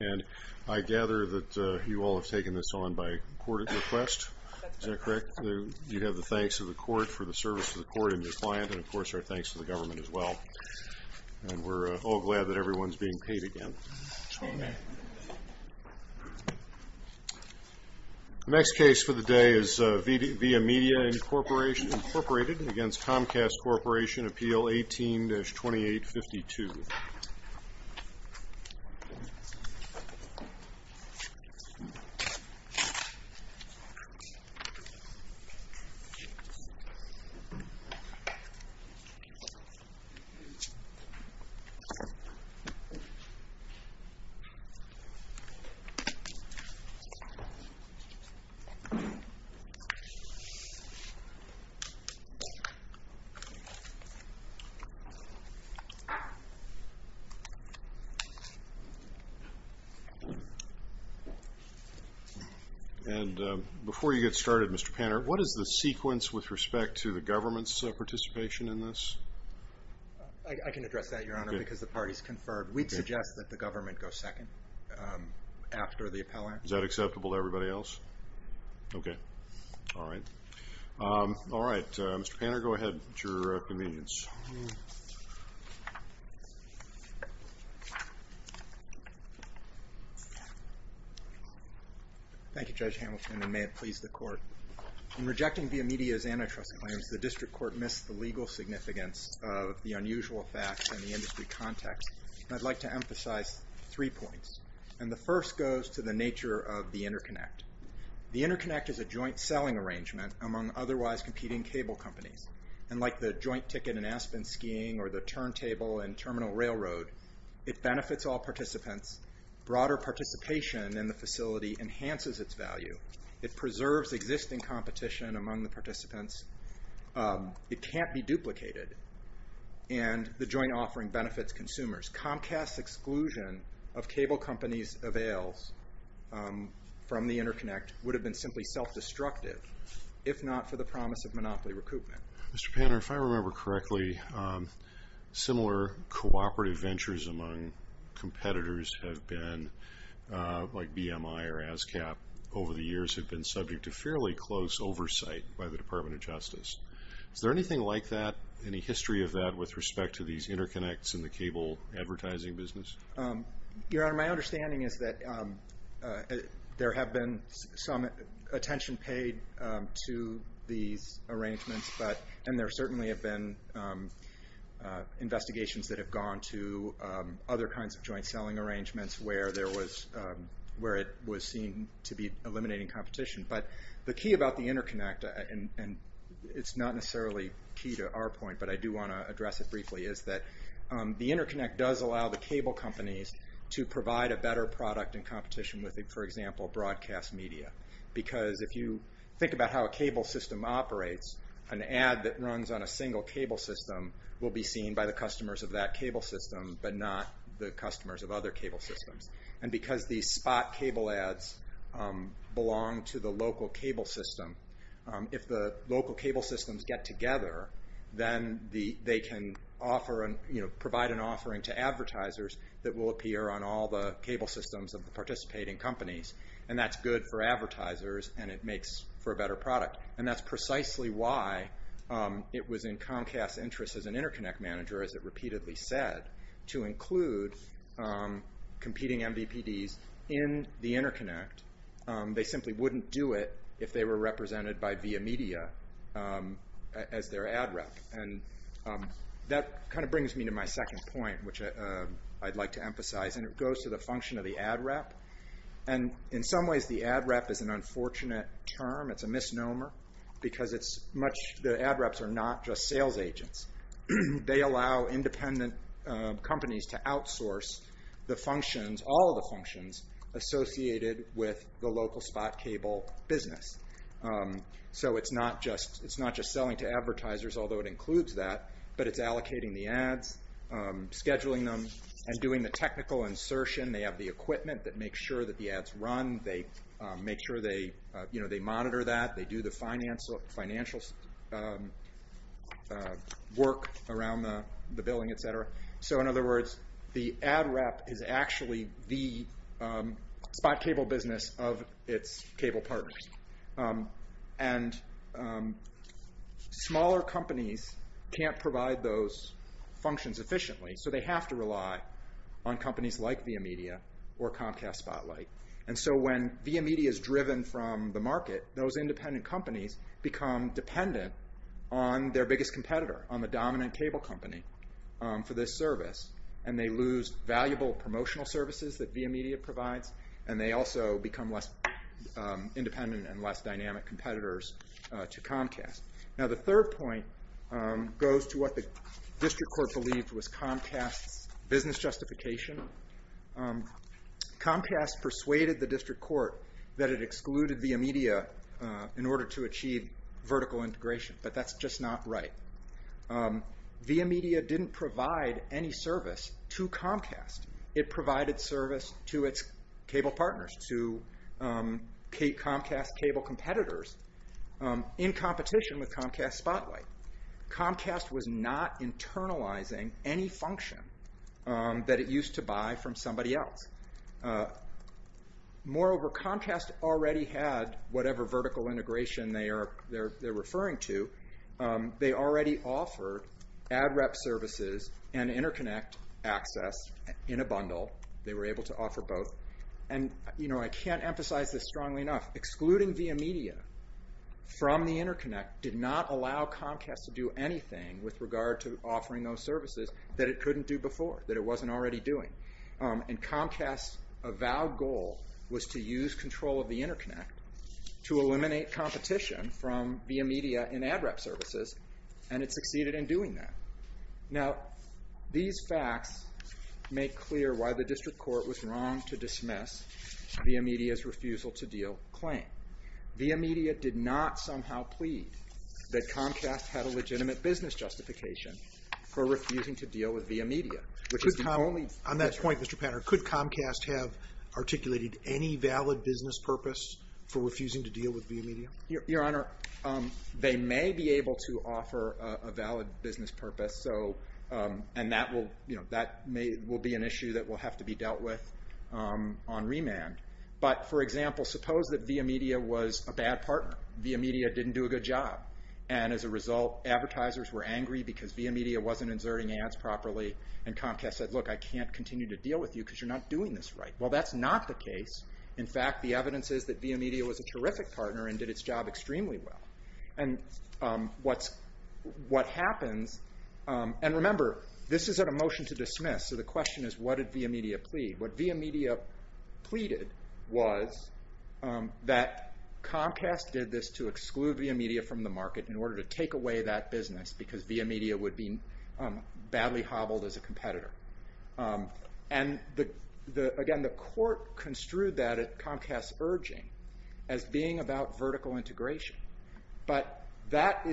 and I gather that you all have taken this on by court request, is that correct? You have the thanks of the court for the service to the court and your client, and of course our thanks to the government as well. And we're all glad that everyone's being paid again. The next case for the day is Viamedia, Incorporated against Comcast Corporation, Appeal 18-2852. And before you get started, Mr. Panner, what is the sequence with respect to the government's participation in this? I can address that, Your Honor, because the party's conferred. We'd suggest that the government go second after the appellant. Is that acceptable to everybody else? Okay, all right. All right, Mr. Panner, go ahead at your convenience. Thank you, Judge Hamilton, and may it please the court. In rejecting Viamedia's antitrust claims, the district court missed the legal significance of the unusual facts in the industry context. I'd like to emphasize three points, and the first goes to the nature of the interconnect. The interconnect is a joint selling arrangement among otherwise competing cable companies, and like the joint ticket in Aspen Skiing or the turntable in Terminal Railroad, it benefits all participants. Broader participation in the facility enhances its value. It preserves existing competition among the participants. It can't be duplicated, and the joint offering benefits consumers. Comcast's exclusion of cable companies' avails from the interconnect would have been simply self-destructive, if not for the promise of monopoly recoupment. Mr. Panner, if I remember correctly, similar cooperative ventures among competitors have been, like BMI or ASCAP, over the years have been subject to fairly close oversight by the Department of Justice. Is there anything like that, any history of that, with respect to these interconnects in the cable advertising business? Your Honor, my understanding is that there have been some attention paid to these arrangements, and there certainly have been investigations that have gone to other kinds of joint selling arrangements where it was seen to be eliminating competition. But the key about the interconnect, and it's not necessarily key to our point, but I do want to address it briefly, is that the interconnect does allow the cable companies to provide a better product in competition with, for example, broadcast media. Because if you think about how a cable system operates, an ad that runs on a single cable system will be seen by the customers of that cable system, but not the customers of other cable systems. And because these spot cable ads belong to the local cable system, if the local cable systems get together, then they can provide an offering to advertisers that will appear on all the cable systems of the participating companies. And that's good for advertisers, and it makes for a better product. And that's precisely why it was in Comcast's interest as an interconnect manager, as it repeatedly said, to include competing MVPDs in the interconnect. They simply wouldn't do it if they were represented by Via Media as their ad rep. And that kind of brings me to my second point, which I'd like to emphasize, and it goes to the function of the ad rep. In some ways, the ad rep is an unfortunate term. It's a misnomer, because the ad reps are not just sales agents. They allow independent companies to outsource all of the functions associated with the local spot cable business. So it's not just selling to advertisers, although it includes that, but it's allocating the ads, scheduling them, and doing the technical insertion. They have the equipment that makes sure that the ads run. They make sure they monitor that. They do the financial work around the billing, et cetera. So in other words, the ad rep is actually the spot cable business of its cable partners. And smaller companies can't provide those functions efficiently, so they have to rely on companies like Via Media or Comcast Spotlight. And so when Via Media is driven from the market, those independent companies become dependent on their biggest competitor, on the dominant cable company for this service, and they lose valuable promotional services that Via Media provides, and they also become less independent and less dynamic competitors to Comcast. Now the third point goes to what the district court believed was Comcast's business justification. Comcast persuaded the district court that it excluded Via Media in order to achieve vertical integration, but that's just not right. Via Media didn't provide any service to Comcast. It provided service to its cable partners, to Comcast cable competitors, in competition with Comcast Spotlight. Comcast was not internalizing any function that it used to buy from somebody else. Moreover, Comcast already had whatever vertical integration they're referring to. They already offered ad rep services and interconnect access in a bundle. They were able to offer both. And I can't emphasize this strongly enough. Excluding Via Media from the interconnect did not allow Comcast to do anything with regard to offering those services that it couldn't do before, that it wasn't already doing. And Comcast's avowed goal was to use control of the interconnect to eliminate competition from Via Media in ad rep services, and it succeeded in doing that. Now, these facts make clear why the district court was wrong to dismiss Via Media's refusal to deal claim. Via Media did not somehow plead that Comcast had a legitimate business justification for refusing to deal with Via Media. On that point, Mr. Panner, could Comcast have articulated any valid business purpose for refusing to deal with Via Media? Your Honor, they may be able to offer a valid business purpose, and that will be an issue that will have to be dealt with on remand. But, for example, suppose that Via Media was a bad partner. Via Media didn't do a good job, and as a result, advertisers were angry because Via Media wasn't inserting ads properly, and Comcast said, look, I can't continue to deal with you because you're not doing this right. Well, that's not the case. In fact, the evidence is that Via Media was a terrific partner and did its job extremely well. And what happens, and remember, this isn't a motion to dismiss, so the question is, what did Via Media plead? What Via Media pleaded was that Comcast did this to exclude Via Media from the market in order to take away that business because Via Media would be badly hobbled as a competitor. And, again, the court construed that at Comcast's urging as being about vertical integration. But that's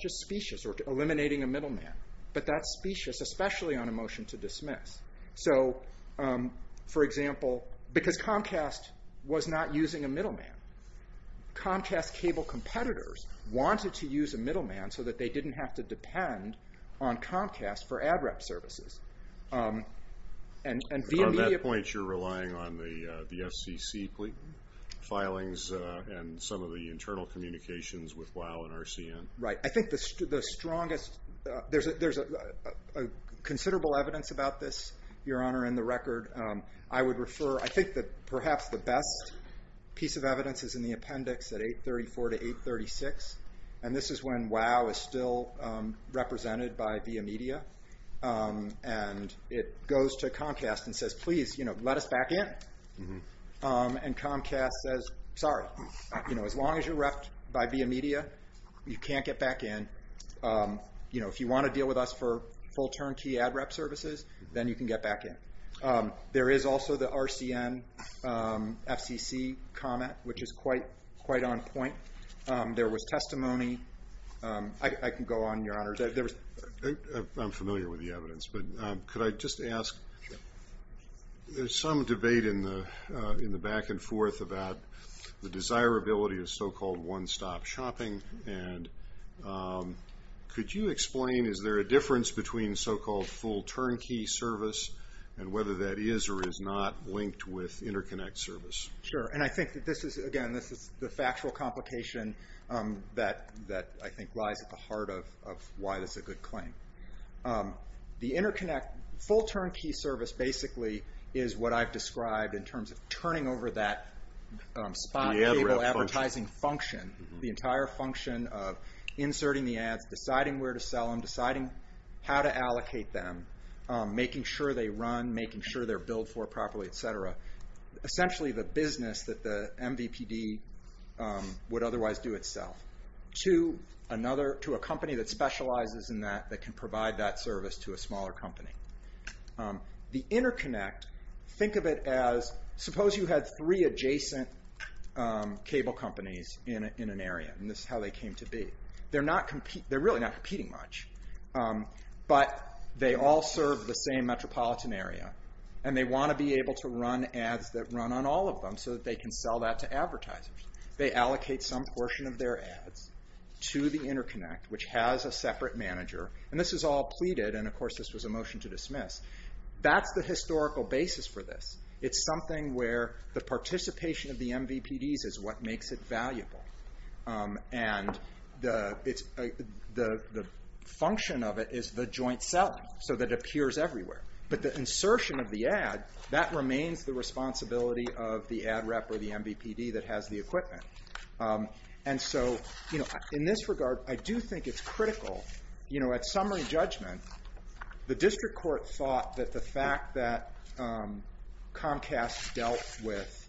just specious, or eliminating a middleman. But that's specious, especially on a motion to dismiss. So, for example, because Comcast was not using a middleman, Comcast cable competitors wanted to use a middleman so that they didn't have to depend on Comcast for ad rep services. And Via Media... At that point, you're relying on the FCC filings and some of the internal communications with WOW and RCN. Right. I think the strongest, there's considerable evidence about this, Your Honor, in the record. I would refer, I think that perhaps the best piece of evidence is in the appendix at 834 to 836. And this is when WOW is still represented by Via Media. And it goes to Comcast and says, please, let us back in. And Comcast says, sorry, as long as you're repped by Via Media, you can't get back in. If you want to deal with us for full turnkey ad rep services, then you can get back in. There is also the RCN FCC comment, which is quite on point. There was testimony. I can go on, Your Honors. I'm familiar with the evidence, but could I just ask, there's some debate in the back and forth about the desirability of so-called one-stop shopping. And could you explain, is there a difference between so-called full turnkey service and whether that is or is not linked with interconnect service? Sure, and I think that this is, again, this is the factual complication that I think lies at the heart of why this is a good claim. The interconnect full turnkey service basically is what I've described in terms of turning over that spot advertising function, the entire function of inserting the ads, deciding where to sell them, deciding how to allocate them, making sure they run, making sure they're billed for properly, et cetera. Essentially the business that the MVPD would otherwise do itself to another, to a company that specializes in that, that can provide that service to a smaller company. The interconnect, think of it as, suppose you had three adjacent cable companies in an area, and this is how they came to be. They're really not competing much, but they all serve the same metropolitan area, and they want to be able to run ads that run on all of them so that they can sell that to advertisers. They allocate some portion of their ads to the interconnect, which has a separate manager, and this is all pleaded, and of course this was a motion to dismiss. That's the historical basis for this. It's something where the participation of the MVPDs is what makes it valuable, and the function of it is the joint selling, so that it appears everywhere. But the insertion of the ad, that remains the responsibility of the ad rep or the MVPD that has the equipment. And so in this regard, I do think it's critical. At summary judgment, the district court thought that the fact that Comcast dealt with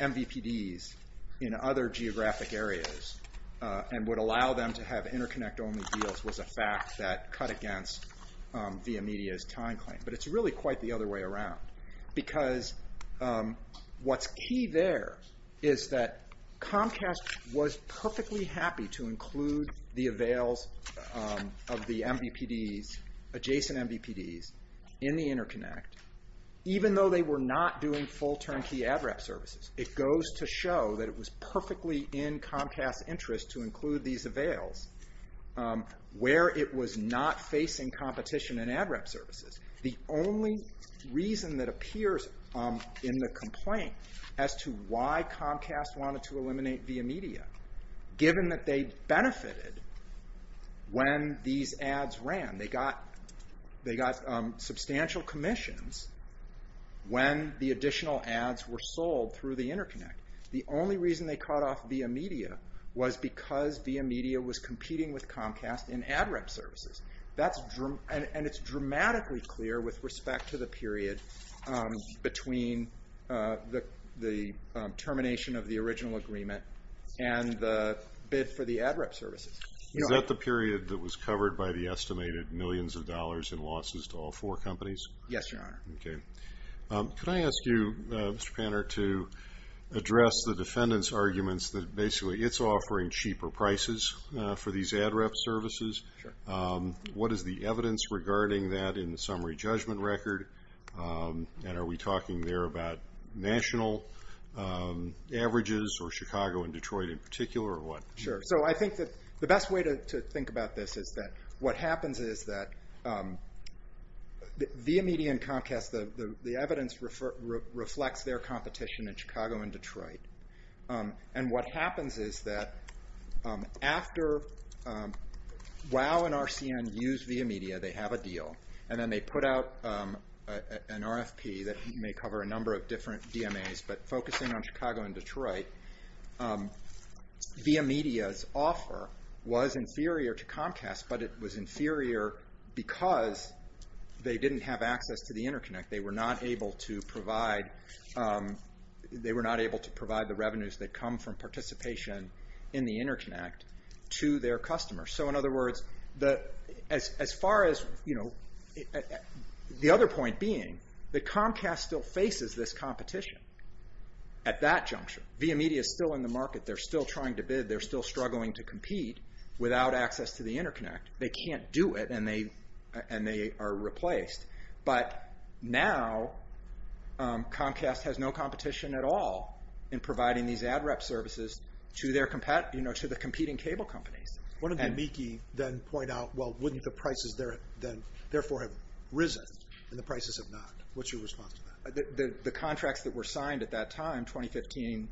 MVPDs in other geographic areas and would allow them to have interconnect-only deals was a fact that cut against Via Media's time claim. But it's really quite the other way around, because what's key there is that Comcast was perfectly happy to include the avails of the adjacent MVPDs in the interconnect, even though they were not doing full turnkey ad rep services. It goes to show that it was perfectly in Comcast's interest to include these avails. Where it was not facing competition in ad rep services. The only reason that appears in the complaint as to why Comcast wanted to eliminate Via Media, given that they benefited when these ads ran. They got substantial commissions when the additional ads were sold through the interconnect. The only reason they cut off Via Media was because Via Media was competing with Comcast in ad rep services. And it's dramatically clear with respect to the period between the termination of the original agreement and the bid for the ad rep services. Is that the period that was covered by the estimated millions of dollars in losses to all four companies? Yes, Your Honor. Okay. Could I ask you, Mr. Panner, to address the defendant's arguments that basically it's offering cheaper prices for these ad rep services? Sure. What is the evidence regarding that in the summary judgment record? And are we talking there about national averages or Chicago and Detroit in particular, or what? Sure. So I think that the best way to think about this is that what happens is that Via Media and Comcast, the evidence reflects their competition in Chicago and Detroit. And what happens is that after Wow and RCN use Via Media, they have a deal, and then they put out an RFP that may cover a number of different DMAs, but focusing on Chicago and Detroit, Via Media's offer was inferior to Comcast, but it was inferior because they didn't have access to the interconnect. They were not able to provide the revenues that come from participation in the interconnect to their customers. So in other words, the other point being that Comcast still faces this competition at that juncture. Via Media's still in the market. They're still trying to bid. They're still struggling to compete without access to the interconnect. They can't do it, and they are replaced. But now Comcast has no competition at all in providing these ad rep services to the competing cable companies. What did the MIECHE then point out? Well, wouldn't the prices therefore have risen and the prices have not? What's your response to that? The contracts that were signed at that time, 2015,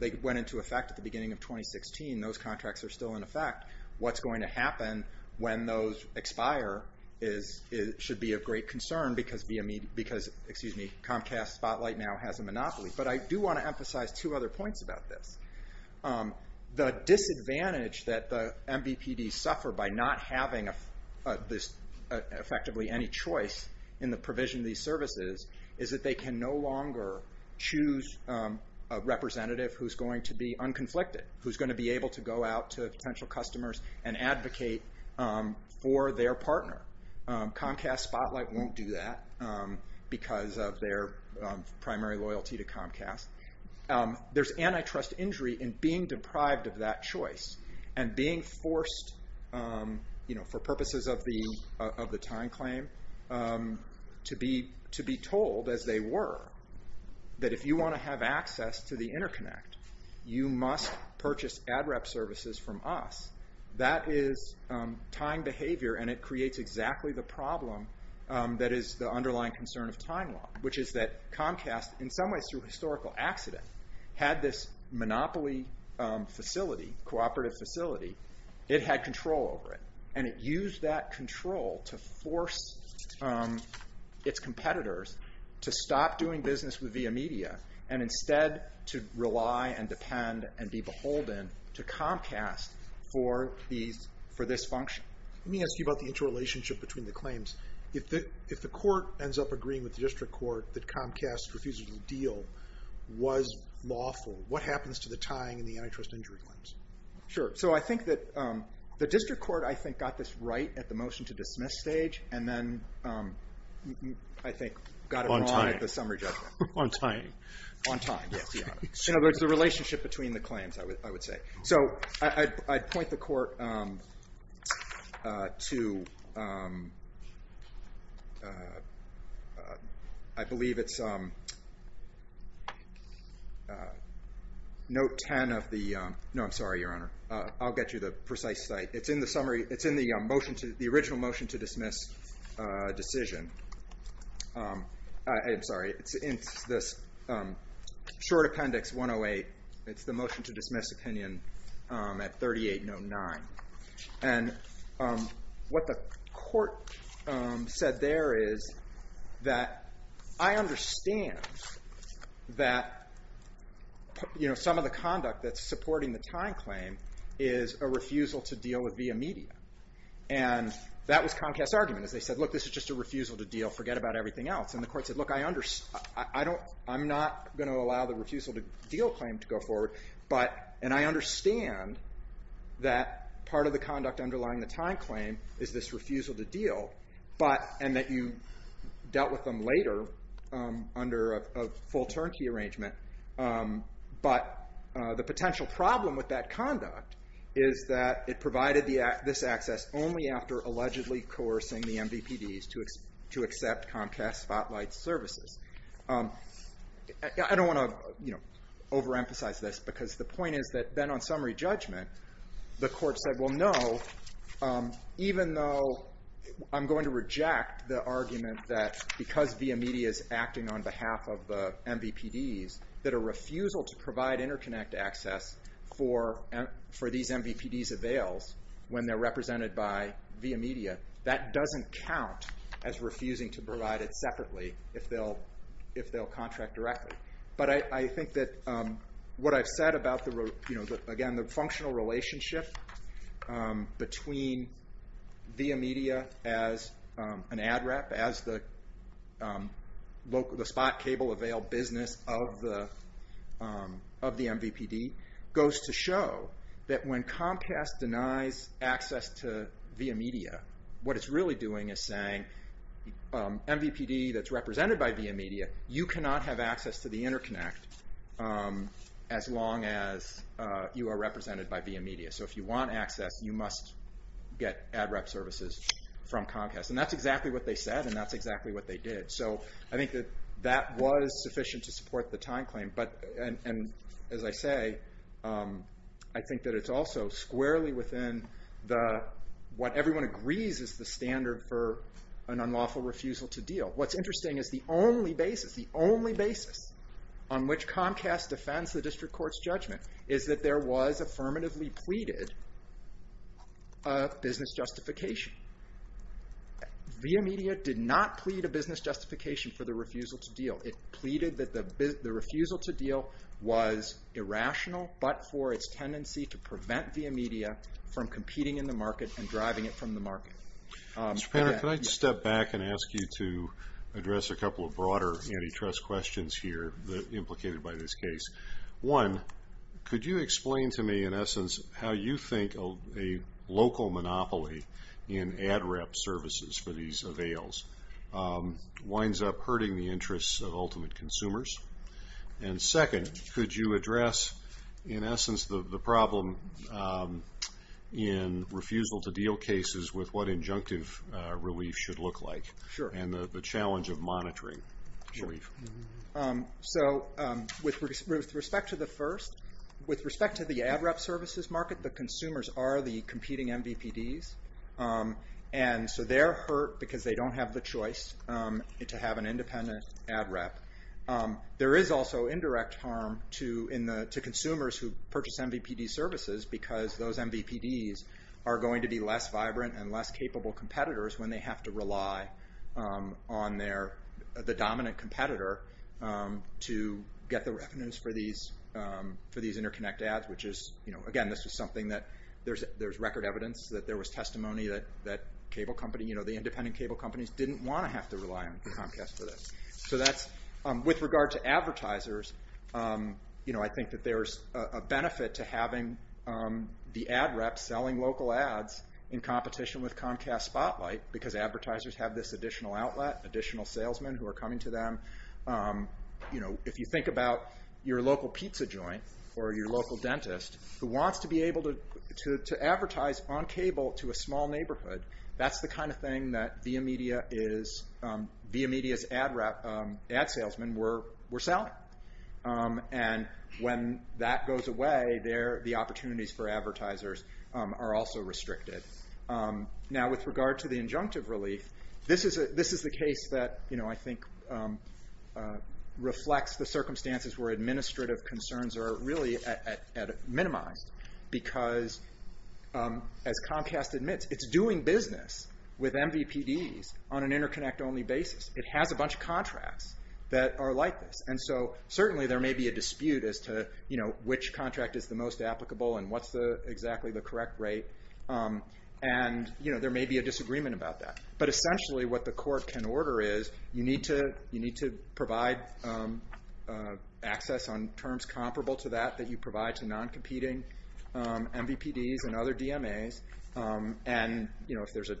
they went into effect at the beginning of 2016. Those contracts are still in effect. What's going to happen when those expire should be of great concern because Comcast Spotlight now has a monopoly. But I do want to emphasize two other points about this. The disadvantage that the MBPDs suffer by not having effectively any choice in the provision of these services is that they can no longer choose a representative who's going to be unconflicted, who's going to be able to go out to potential customers and advocate for their partner. Comcast Spotlight won't do that because of their primary loyalty to Comcast. There's antitrust injury in being deprived of that choice and being forced, for purposes of the time claim, to be told, as they were, that if you want to have access to the interconnect, you must purchase ad rep services from us. That is time behavior and it creates exactly the problem that is the underlying concern of time law, which is that Comcast, in some ways through historical accident, had this monopoly facility, cooperative facility. It had control over it. And it used that control to force its competitors to stop doing business via media and instead to rely and depend and be beholden to Comcast for this function. Let me ask you about the interrelationship between the claims. If the court ends up agreeing with the district court that Comcast's refusal to deal was lawful, what happens to the tying and the antitrust injury claims? Sure. So I think that the district court, I think, got this right at the motion to dismiss stage and then, I think, got it wrong at the summary judgment. On tying. On tying, yes. In other words, the relationship between the claims, I would say. So I'd point the court to, I believe it's note 10 of the, no, I'm sorry, Your Honor. I'll get you the precise site. It's in the summary. It's in the original motion to dismiss decision. I'm sorry. It's in this short appendix 108. It's the motion to dismiss opinion at 3809. And what the court said there is that I understand that some of the conduct that's supporting the tying claim is a refusal to deal via media. And that was Comcast's argument is they said, look, this is just a refusal to deal. Forget about everything else. And the court said, look, I'm not going to allow the refusal to deal claim to go forward. And I understand that part of the conduct underlying the tying claim is this refusal to deal. And that you dealt with them later under a full turnkey arrangement. But the potential problem with that conduct is that it provided this access only after allegedly coercing the MVPDs to accept Comcast Spotlight services. I don't want to overemphasize this, because the point is that then on summary judgment, the court said, well, no, even though I'm going to reject the argument that because via media is acting on behalf of the MVPDs, that a refusal to provide interconnect access for these MVPDs avails when they're represented by via media, that doesn't count as refusing to provide it separately if they'll contract directly. But I think that what I've said about, again, the functional relationship between via media as an ad rep, as the spot cable avail business of the MVPD, goes to show that when Comcast denies access to via media, what it's really doing is saying, MVPD that's represented by via media, you cannot have access to the interconnect as long as you are represented by via media. So if you want access, you must get ad rep services from Comcast. And that's exactly what they said, and that's exactly what they did. So I think that that was sufficient to support the time claim. And as I say, I think that it's also squarely within what everyone agrees is the standard for an unlawful refusal to deal. What's interesting is the only basis, the only basis, on which Comcast defends the district court's judgment is that there was affirmatively pleaded a business justification. Via media did not plead a business justification for the refusal to deal. It pleaded that the refusal to deal was irrational, but for its tendency to prevent via media from competing in the market and driving it from the market. Mr. Panner, can I step back and ask you to address a couple of broader antitrust questions here implicated by this case? One, could you explain to me, in essence, how you think a local monopoly in ad rep services for these avails winds up hurting the interests of ultimate consumers? And second, could you address, in essence, the problem in refusal to deal cases with what injunctive relief should look like and the challenge of monitoring relief? So with respect to the first, with respect to the ad rep services market, the consumers are the competing MVPDs, and so they're hurt because they don't have the choice to have an independent ad rep. There is also indirect harm to consumers who purchase MVPD services because those MVPDs are going to be less vibrant and less capable competitors when they have to rely on the dominant competitor to get the revenues for these interconnect ads, which is, again, this was something that, there's record evidence that there was testimony that the independent cable companies didn't want to have to rely on Comcast for this. So that's, with regard to advertisers, I think that there's a benefit to having the ad rep selling local ads in competition with Comcast Spotlight because advertisers have this additional outlet, additional salesmen who are coming to them. If you think about your local pizza joint or your local dentist who wants to be able to advertise on cable to a small neighborhood, that's the kind of thing that ViaMedia is, ViaMedia's ad salesmen were selling. And when that goes away, the opportunities for advertisers are also restricted. Now, with regard to the injunctive relief, this is the case that I think reflects the circumstances where administrative concerns are really minimized because, as Comcast admits, it's doing business with MVPDs on an interconnect-only basis. It has a bunch of contracts that are like this. And so certainly there may be a dispute as to which contract is the most applicable and what's exactly the correct rate. And there may be a disagreement about that. But essentially what the court can order is you need to provide access on terms comparable to that that you provide to non-competing MVPDs and other DMAs. And if there's an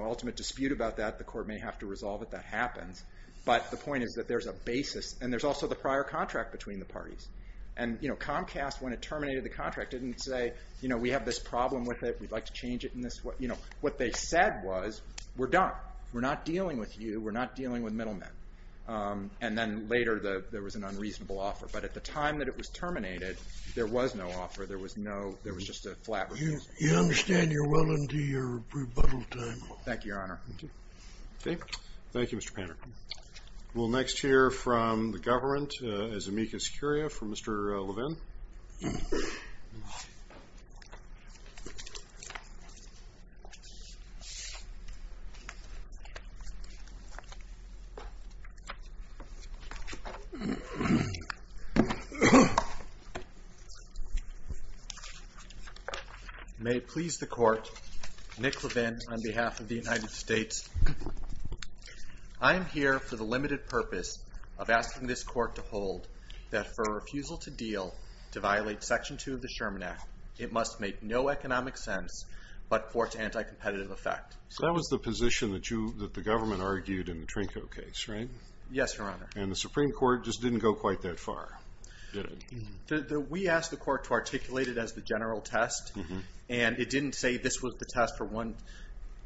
ultimate dispute about that, the court may have to resolve it. That happens. But the point is that there's a basis. And there's also the prior contract between the parties. And Comcast, when it terminated the contract, didn't say, we have this problem with it, we'd like to change it in this way. What they said was, we're done. We're not dealing with you. We're not dealing with middlemen. And then later there was an unreasonable offer. But at the time that it was terminated, there was no offer. There was just a flat refusal. You understand you're well into your rebuttal time. Thank you, Your Honor. Thank you, Mr. Panner. We'll next hear from the government, as amicus curia, from Mr. Levin. May it please the court, Nick Levin on behalf of the United States. I am here for the limited purpose of asking this court to hold that for a refusal to deal to violate Section 2 of the Sherman Act, it must make no economic sense but force anti-competitive effect. So that was the position that the government argued in the Trinko case, right? Yes, Your Honor. And the Supreme Court just didn't go quite that far, did it? We asked the court to articulate it as the general test, and it didn't say this was the test for one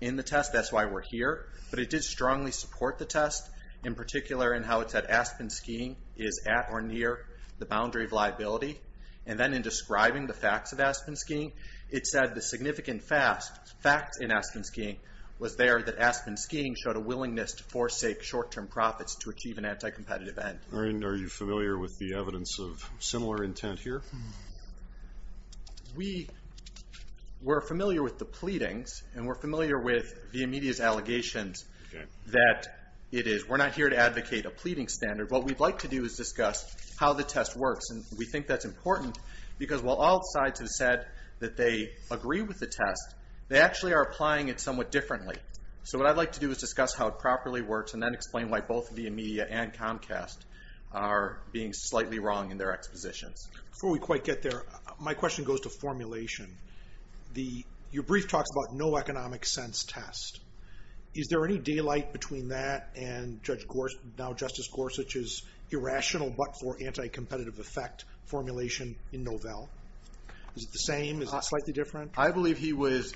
in the test, that's why we're here. But it did strongly support the test, in particular in how it said Aspen skiing is at or near the boundary of liability. And then in describing the facts of Aspen skiing, it said the significant fact in Aspen skiing was there that Aspen skiing showed a willingness to forsake short-term profits to achieve an anti-competitive end. Are you familiar with the evidence of similar intent here? We're familiar with the pleadings, and we're familiar with Via Media's allegations that it is. We're not here to advocate a pleading standard. What we'd like to do is discuss how the test works, and we think that's important because while all sides have said that they agree with the test, they actually are applying it somewhat differently. So what I'd like to do is discuss how it properly works and then explain why both Via Media and Comcast are being slightly wrong in their expositions. Before we quite get there, my question goes to formulation. Your brief talks about no economic sense test. Is there any daylight between that and now Justice Gorsuch's irrational but for anti-competitive effect formulation in Novell? Is it the same? Is it slightly different? I believe he was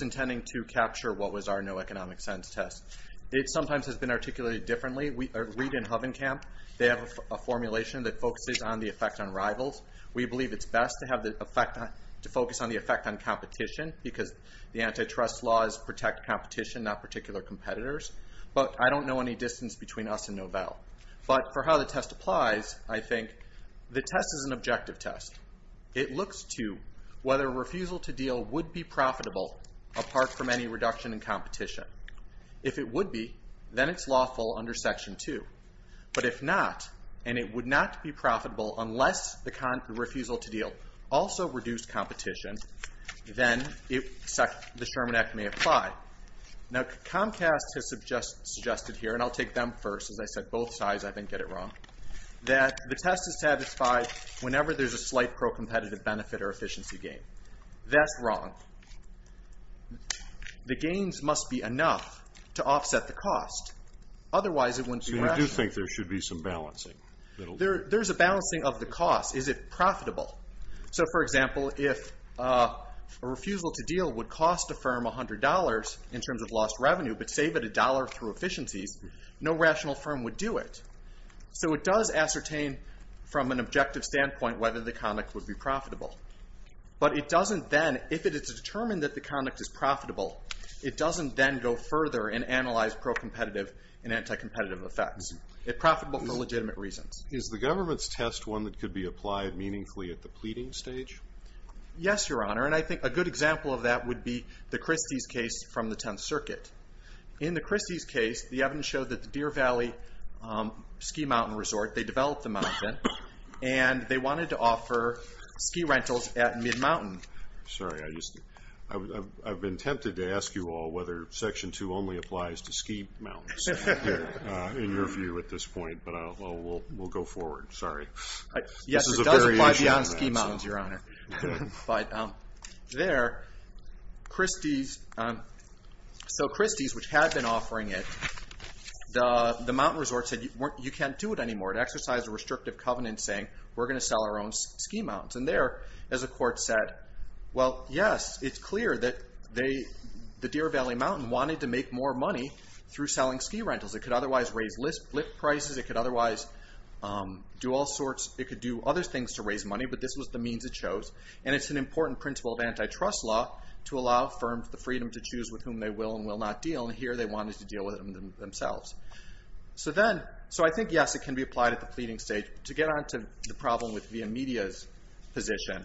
intending to capture what was our no economic sense test. It sometimes has been articulated differently. Reid and Hovenkamp, they have a formulation that focuses on the effect on rivals. We believe it's best to focus on the effect on competition because the antitrust laws protect competition, not particular competitors. But I don't know any distance between us and Novell. But for how the test applies, I think the test is an objective test. It looks to whether refusal to deal would be profitable apart from any reduction in competition. If it would be, then it's lawful under Section 2. But if not, and it would not be profitable unless the refusal to deal also reduced competition, then the Sherman Act may apply. Now Comcast has suggested here, and I'll take them first. As I said, both sides, I didn't get it wrong, that the test is satisfied whenever there's a slight pro-competitive benefit or efficiency gain. That's wrong. The gains must be enough to offset the cost. Otherwise it wouldn't be rational. So you do think there should be some balancing? There's a balancing of the cost. Is it profitable? So, for example, if a refusal to deal would cost a firm $100 in terms of lost revenue, but save it $1 through efficiencies, no rational firm would do it. So it does ascertain from an objective standpoint whether the conduct would be profitable. But it doesn't then, if it is determined that the conduct is profitable, it doesn't then go further and analyze pro-competitive and anti-competitive effects. It's profitable for legitimate reasons. Is the government's test one that could be applied meaningfully at the pleading stage? Yes, Your Honor, and I think a good example of that would be the Christie's case from the Tenth Circuit. In the Christie's case, the evidence showed that the Deer Valley Ski Mountain Resort, they developed the mountain, and they wanted to offer ski rentals at Mid-Mountain. Sorry, I've been tempted to ask you all whether Section 2 only applies to ski mountains in your view at this point, but we'll go forward. Sorry. Yes, it does apply beyond ski mountains, Your Honor. But there, Christie's... So Christie's, which had been offering it, the mountain resort said you can't do it anymore. It exercised a restrictive covenant saying we're going to sell our own ski mountains. And there, as the court said, well, yes, it's clear that the Deer Valley Mountain wanted to make more money through selling ski rentals. It could otherwise raise lift prices. It could otherwise do all sorts... It could do other things to raise money, but this was the means it chose. And it's an important principle of antitrust law to allow firms the freedom to choose with whom they will and will not deal. And here they wanted to deal with it themselves. So I think, yes, it can be applied at the pleading stage. To get on to the problem with Via Media's position,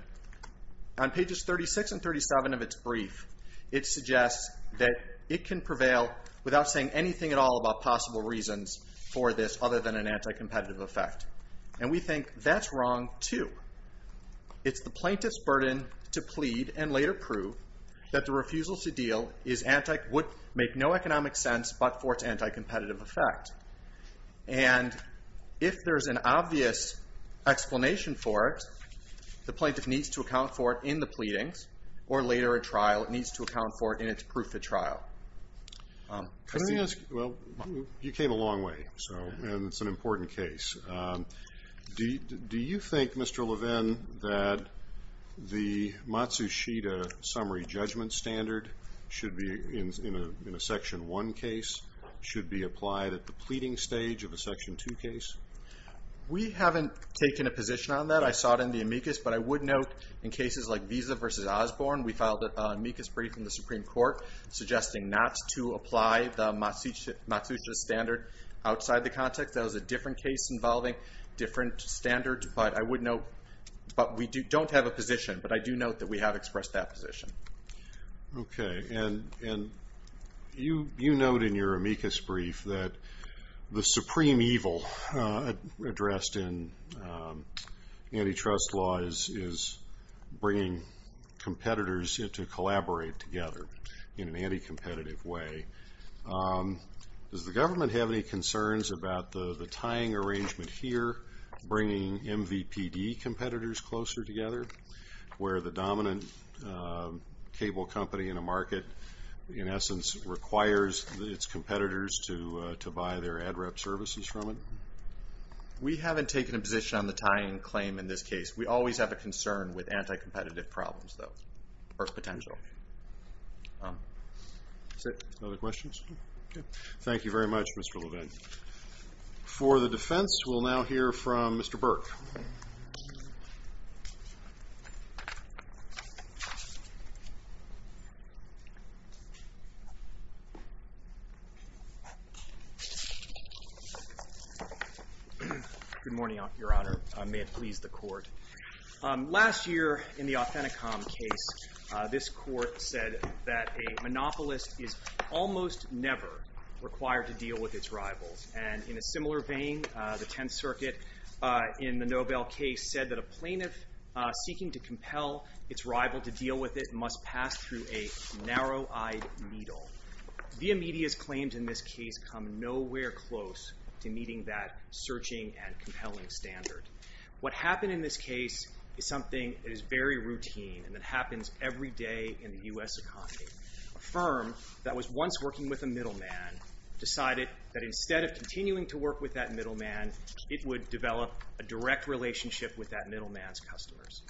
on pages 36 and 37 of its brief, it suggests that it can prevail without saying anything at all about possible reasons for this other than an anti-competitive effect. And we think that's wrong too. It's the plaintiff's burden to plead and later prove that the refusal to deal would make no economic sense but for its anti-competitive effect. And if there's an obvious explanation for it, the plaintiff needs to account for it in the pleadings or later at trial. It needs to account for it in its proof at trial. Can I ask... Well, you came a long way, so... And it's an important case. Do you think, Mr. Levin, that the Matsushita summary judgment standard should be, in a Section 1 case, should be applied at the pleading stage of a Section 2 case? We haven't taken a position on that. I saw it in the amicus, but I would note in cases like Visa v. Osborne, we filed an amicus brief in the Supreme Court suggesting not to apply the Matsushita standard outside the context. That was a different case involving different standards, but I would note... But we don't have a position, but I do note that we have expressed that position. Okay. And you note in your amicus brief that the supreme evil addressed in antitrust law is bringing competitors to collaborate together in an anti-competitive way. Does the government have any concerns about the tying arrangement here, bringing MVPD competitors closer together, where the dominant cable company in a market, in essence, requires its competitors to buy their ad rep services from it? We haven't taken a position on the tying claim in this case. We always have a concern with anti-competitive problems, though, or potential. That's it. Other questions? Okay. Thank you very much, Mr. Levin. For the defense, we'll now hear from Mr. Burke. Good morning, Your Honor. May it please the Court. Last year, in the Authenticom case, this Court said that a monopolist is almost never required to deal with its rivals. And in a similar vein, the Tenth Circuit, in the Nobel case, said that a plaintiff seeking to compel its rival to deal with it must pass through a narrow-eyed needle. ViaMedia's claims in this case come nowhere close to meeting that searching and compelling standard. What happened in this case is something that is very routine and that happens every day in the U.S. economy. A firm that was once working with a middleman decided that instead of continuing to work with that middleman, it would develop a direct relationship with that middleman's customers.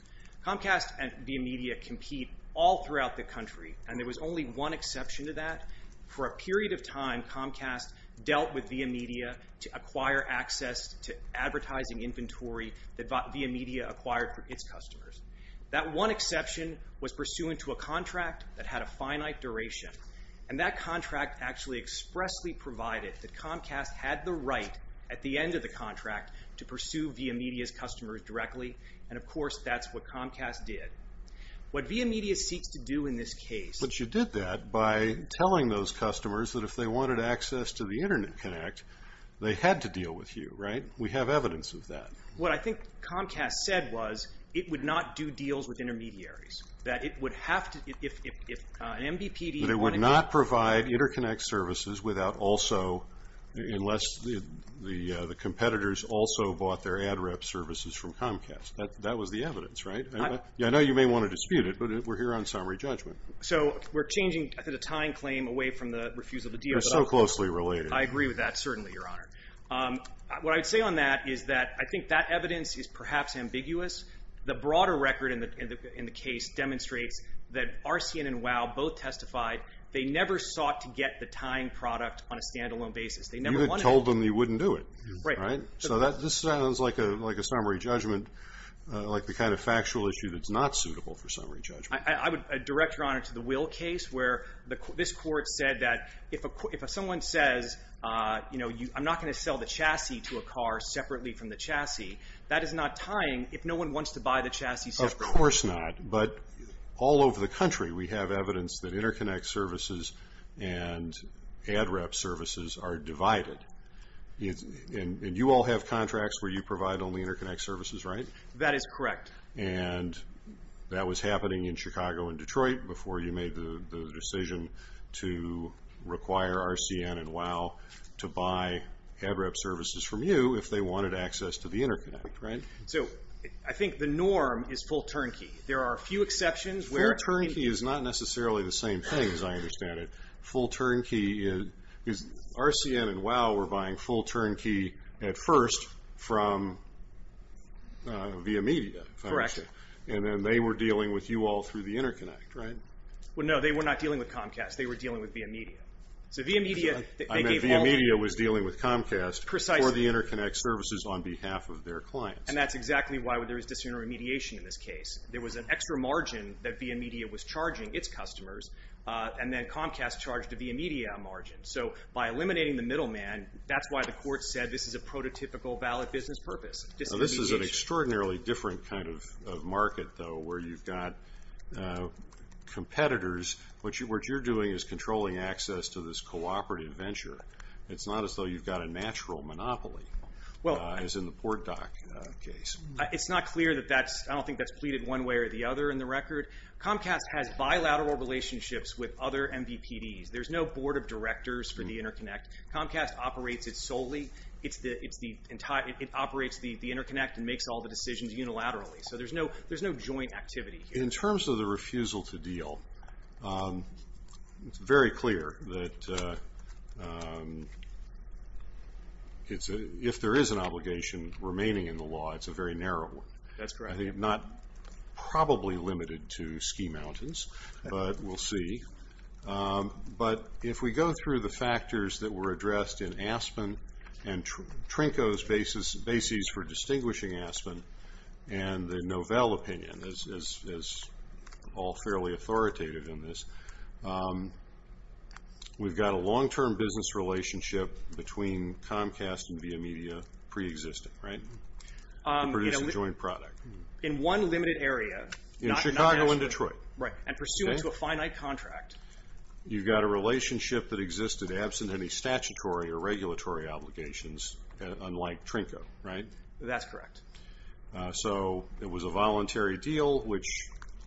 Comcast and ViaMedia compete all throughout the country, and there was only one exception to that. For a period of time, Comcast dealt with ViaMedia to acquire access to advertising inventory that ViaMedia acquired for its customers. That one exception was pursuant to a contract that had a finite duration, and that contract actually expressly provided that Comcast had the right at the end of the contract to pursue ViaMedia's customers directly, and of course that's what Comcast did. What ViaMedia seeks to do in this case... But you did that by telling those customers that if they wanted access to the Internet Connect, they had to deal with you, right? We have evidence of that. What I think Comcast said was it would not do deals with intermediaries, that it would have to... But it would not provide InterConnect services unless the competitors also bought their ad rep services from Comcast. That was the evidence, right? I know you may want to dispute it, but we're here on summary judgment. So we're changing the tying claim away from the refusal to deal. They're so closely related. I agree with that, certainly, Your Honor. What I'd say on that is that I think that evidence is perhaps ambiguous. The broader record in the case demonstrates that RCN and WOW both testified they never sought to get the tying product on a standalone basis. You had told them you wouldn't do it. Right. So this sounds like a summary judgment, like the kind of factual issue that's not suitable for summary judgment. I would direct, Your Honor, to the Will case where this court said that if someone says, you know, I'm not going to sell the chassis to a car separately from the chassis, that is not tying if no one wants to buy the chassis separately. Of course not. But all over the country, we have evidence that interconnect services and ad rep services are divided. And you all have contracts where you provide only interconnect services, right? That is correct. And that was happening in Chicago and Detroit before you made the decision to require RCN and WOW to buy ad rep services from you if they wanted access to the interconnect, right? So I think the norm is full turnkey. There are a few exceptions where... Full turnkey is not necessarily the same thing, as I understand it. Full turnkey is... RCN and WOW were buying full turnkey at first from VIA Media, if I understand. Correct. And then they were dealing with you all through the interconnect, right? Well, no, they were not dealing with Comcast. They were dealing with VIA Media. So VIA Media... I meant VIA Media was dealing with Comcast for the interconnect services on behalf of their clients. And that's exactly why there was disintermediation in this case. There was an extra margin that VIA Media was charging its customers, and then Comcast charged VIA Media a margin. So by eliminating the middleman, that's why the court said this is a prototypical valid business purpose. Disintermediation. This is an extraordinarily different kind of market, though, where you've got competitors. What you're doing is controlling access to this cooperative venture. It's not as though you've got a natural monopoly, as in the PortDoc case. It's not clear that that's... one way or the other in the record. Comcast has bilateral relationships with other MVPDs. There's no board of directors for the interconnect. Comcast operates it solely. It operates the interconnect and makes all the decisions unilaterally. So there's no joint activity here. In terms of the refusal to deal, it's very clear that... if there is an obligation remaining in the law, it's a very narrow one. That's correct. I think not probably limited to ski mountains, but we'll see. But if we go through the factors that were addressed in Aspen and Trinko's basis for distinguishing Aspen and the Novell opinion, as all fairly authoritative in this, we've got a long-term business relationship between Comcast and Via Media preexisting, right? To produce a joint product. In one limited area. In Chicago and Detroit. Right, and pursuant to a finite contract. You've got a relationship that existed absent any statutory or regulatory obligations, unlike Trinko, right? That's correct. So it was a voluntary deal, which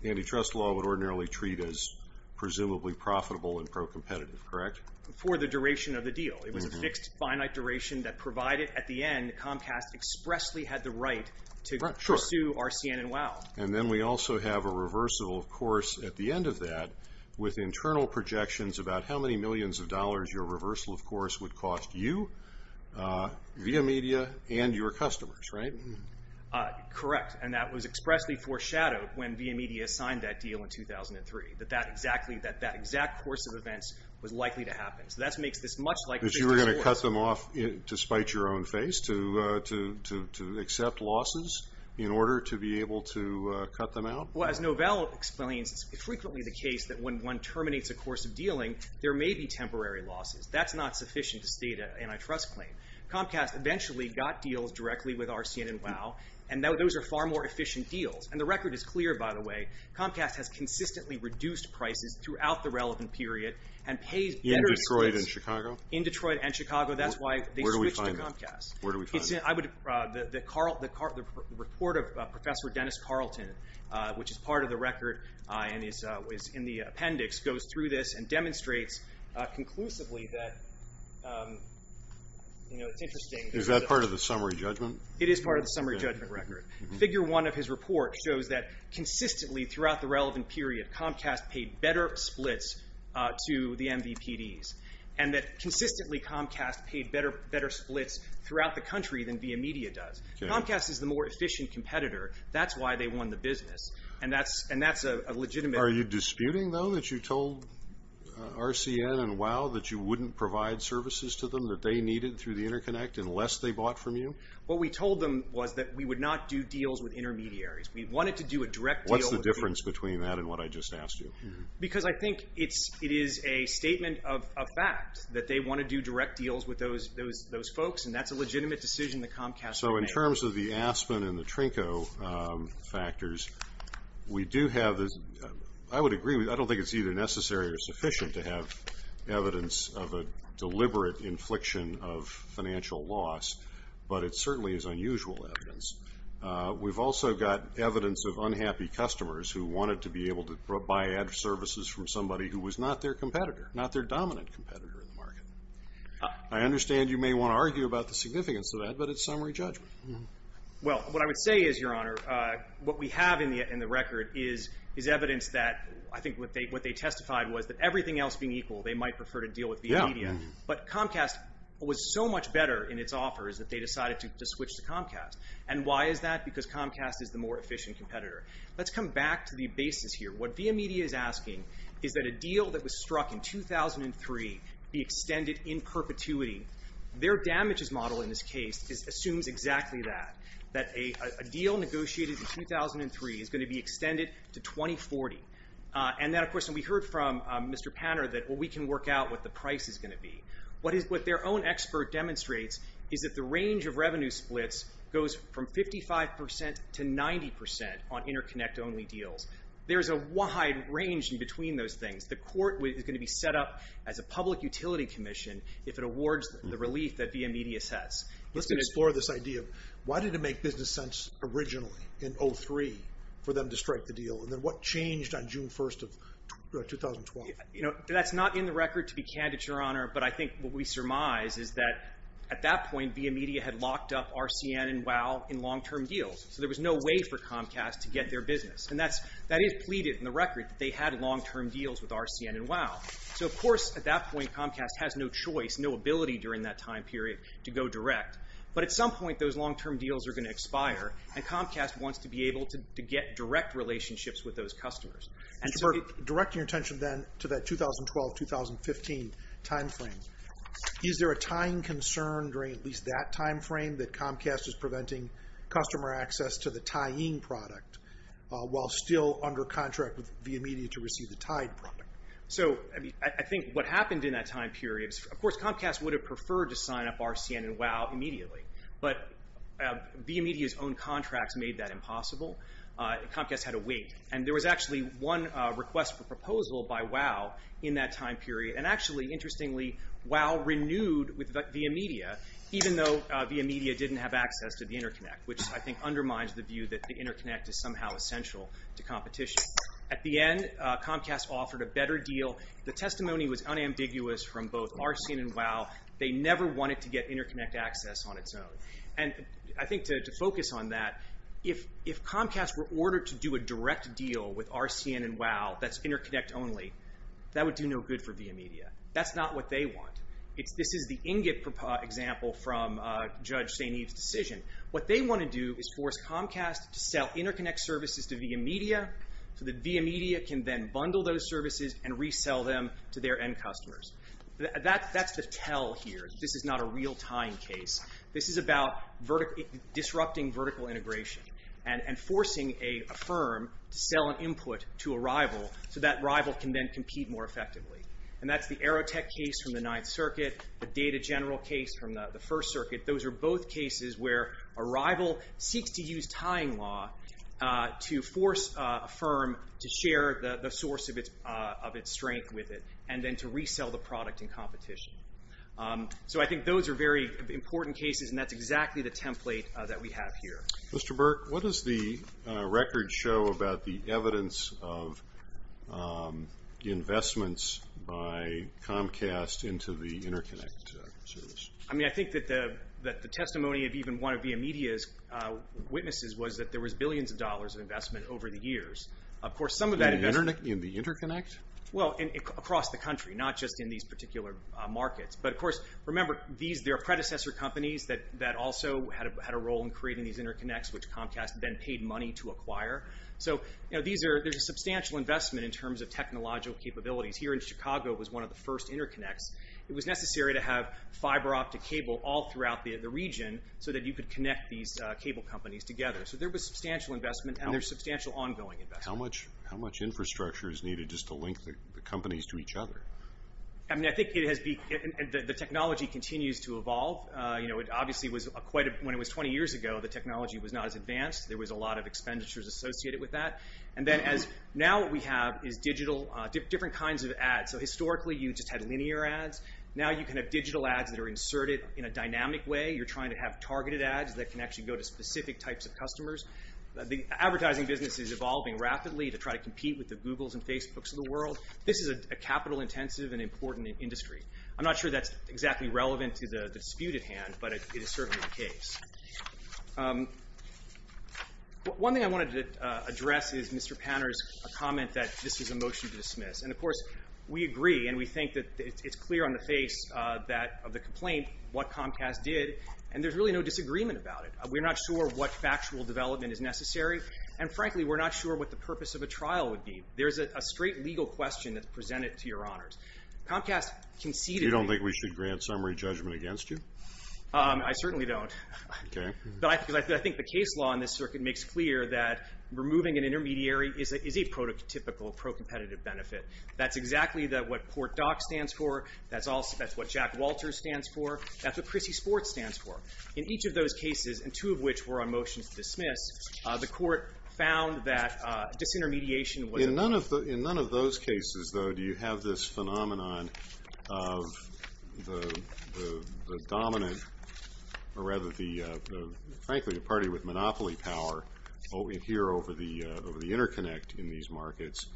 antitrust law would ordinarily treat as presumably profitable and pro-competitive, correct? For the duration of the deal. It was a fixed, finite duration that provided at the end, that Comcast expressly had the right to pursue RCN and WOW. And then we also have a reversal, of course, at the end of that, with internal projections about how many millions of dollars your reversal, of course, would cost you, Via Media, and your customers, right? Correct. And that was expressly foreshadowed when Via Media signed that deal in 2003. That that exact course of events was likely to happen. So that makes this much like Trinko's lawyers. So you were going to cut them off to spite your own face, to accept losses in order to be able to cut them out? Well, as Novell explains, it's frequently the case that when one terminates a course of dealing, there may be temporary losses. That's not sufficient to state an antitrust claim. Comcast eventually got deals directly with RCN and WOW, and those are far more efficient deals. And the record is clear, by the way. Comcast has consistently reduced prices throughout the relevant period and pays better... In Detroit and Chicago? In Detroit and Chicago. That's why they switched to Comcast. Where do we find that? The report of Professor Dennis Carlton, which is part of the record and is in the appendix, goes through this and demonstrates conclusively that, you know, it's interesting... Is that part of the summary judgment? It is part of the summary judgment record. Figure 1 of his report shows that consistently throughout the relevant period, Comcast paid better splits to the MVPDs and that consistently Comcast paid better splits throughout the country than VIA Media does. Comcast is the more efficient competitor. That's why they won the business. And that's a legitimate... Are you disputing, though, that you told RCN and WOW that you wouldn't provide services to them that they needed through the interconnect unless they bought from you? What we told them was that we would not do deals with intermediaries. We wanted to do a direct deal... What's the difference between that and what I just asked you? Because I think it is a statement of fact that they want to do direct deals with those folks and that's a legitimate decision that Comcast made. So in terms of the Aspen and the Trinco factors, we do have... I would agree. I don't think it's either necessary or sufficient to have evidence of a deliberate infliction of financial loss, but it certainly is unusual evidence. We've also got evidence of unhappy customers who wanted to be able to buy ad services from somebody who was not their competitor, not their dominant competitor in the market. I understand you may want to argue about the significance of that, but it's summary judgment. Well, what I would say is, Your Honor, what we have in the record is evidence that I think what they testified was that everything else being equal, they might prefer to deal with Via Media, but Comcast was so much better in its offers that they decided to switch to Comcast. And why is that? Because Comcast is the more efficient competitor. Let's come back to the basis here. What Via Media is asking is that a deal that was struck in 2003 be extended in perpetuity. Their damages model in this case assumes exactly that, that a deal negotiated in 2003 is going to be extended to 2040. And then, of course, we heard from Mr. Panner that we can work out what the price is going to be. What their own expert demonstrates is that the range of revenue splits goes from 55% to 90% on interconnect-only deals. There's a wide range in between those things. The court is going to be set up as a public utility commission if it awards the relief that Via Media says. Let's explore this idea. Why did it make business sense originally in 2003 for them to strike the deal? And then what changed on June 1st of 2012? You know, that's not in the record to be candid, Your Honor, but I think what we surmise is that at that point, Via Media had locked up RCN and WOW in long-term deals. So there was no way for Comcast to get their business. And that is pleaded in the record that they had long-term deals with RCN and WOW. So, of course, at that point, Comcast has no choice, no ability during that time period to go direct. But at some point, those long-term deals are going to expire, and Comcast wants to be able to get direct relationships with those customers. Mr. Burke, directing your attention then to that 2012-2015 time frame, is there a tying concern during at least that time frame that Comcast is preventing customer access to the tying product while still under contract with Via Media to receive the tied product? So, I think what happened in that time period, of course, Comcast would have preferred to sign up RCN and WOW immediately. But Via Media's own contracts made that impossible. Comcast had to wait. And there was actually one request for proposal by WOW in that time period. And actually, interestingly, WOW renewed with Via Media, even though Via Media didn't have access to the interconnect, which I think undermines the view that the interconnect is somehow essential to competition. At the end, Comcast offered a better deal. The testimony was unambiguous from both RCN and WOW. They never wanted to get interconnect access on its own. And I think to focus on that, if Comcast were ordered to do a direct deal with RCN and WOW that's interconnect only, that would do no good for Via Media. That's not what they want. This is the ingot example from Judge St. Eve's decision. What they want to do is force Comcast to sell interconnect services to Via Media so that Via Media can then bundle those services and resell them to their end customers. That's the tell here. This is not a real tying case. This is about disrupting vertical integration and forcing a firm to sell an input to a rival so that rival can then compete more effectively. And that's the Aerotech case from the Ninth Circuit, the Data General case from the First Circuit. Those are both cases where a rival seeks to use tying law to force a firm to share the source of its strength with it and then to resell the product in competition. So I think those are very important cases and that's exactly the template that we have here. Mr. Burke, what does the record show about the evidence of investments by Comcast into the interconnect service? I think that the testimony of even one of Via Media's witnesses was that there was billions of dollars of investment over the years. In the interconnect? Well, across the country, not just in these particular markets. But of course, remember, there are predecessor companies that also had a role in creating these interconnects which Comcast then paid money to acquire. So there's a substantial investment in terms of technological capabilities. Here in Chicago was one of the first interconnects. It was necessary to have fiber optic cable all throughout the region so that you could connect these cable companies together. So there was substantial investment and there's substantial ongoing investment. How much infrastructure is needed just to link the companies to each other? I think the technology continues to evolve. Obviously, when it was 20 years ago, the technology was not as advanced. There was a lot of expenditures associated with that. Now what we have is different kinds of ads. So historically, you just had linear ads. Now you can have digital ads that are inserted in a dynamic way. You're trying to have targeted ads that can actually go to customers. The advertising business is evolving rapidly to try to compete with the Googles and Facebooks of the world. This is a capital intensive and important industry. I'm not sure that's exactly relevant to the dispute at hand, but it is certainly the case. One thing I wanted to address is Mr. Panner's comment that this is a motion to dismiss. And of course, we agree and we think that it's clear on the face of the complaint what Comcast did and there's really no disagreement about it. We're not sure what factual development is necessary and frankly, we're not sure what the purpose of a trial would be. There's a straight legal question that's presented to your honors. Comcast conceded... You don't think we should grant summary judgment against you? I certainly don't. Okay. But I think the case law in this circuit makes clear that removing an intermediary is a prototypical pro-competitive benefit. That's exactly what PortDoc stands for. That's what Jack Walters stands for. That's what Chrissy Sports stands for. In each of those cases, and two of which were on motion to dismiss, the court found that disintermediation was... In none of those cases, though, do you have this phenomenon of the dominant, or rather, frankly, the party interconnect in these markets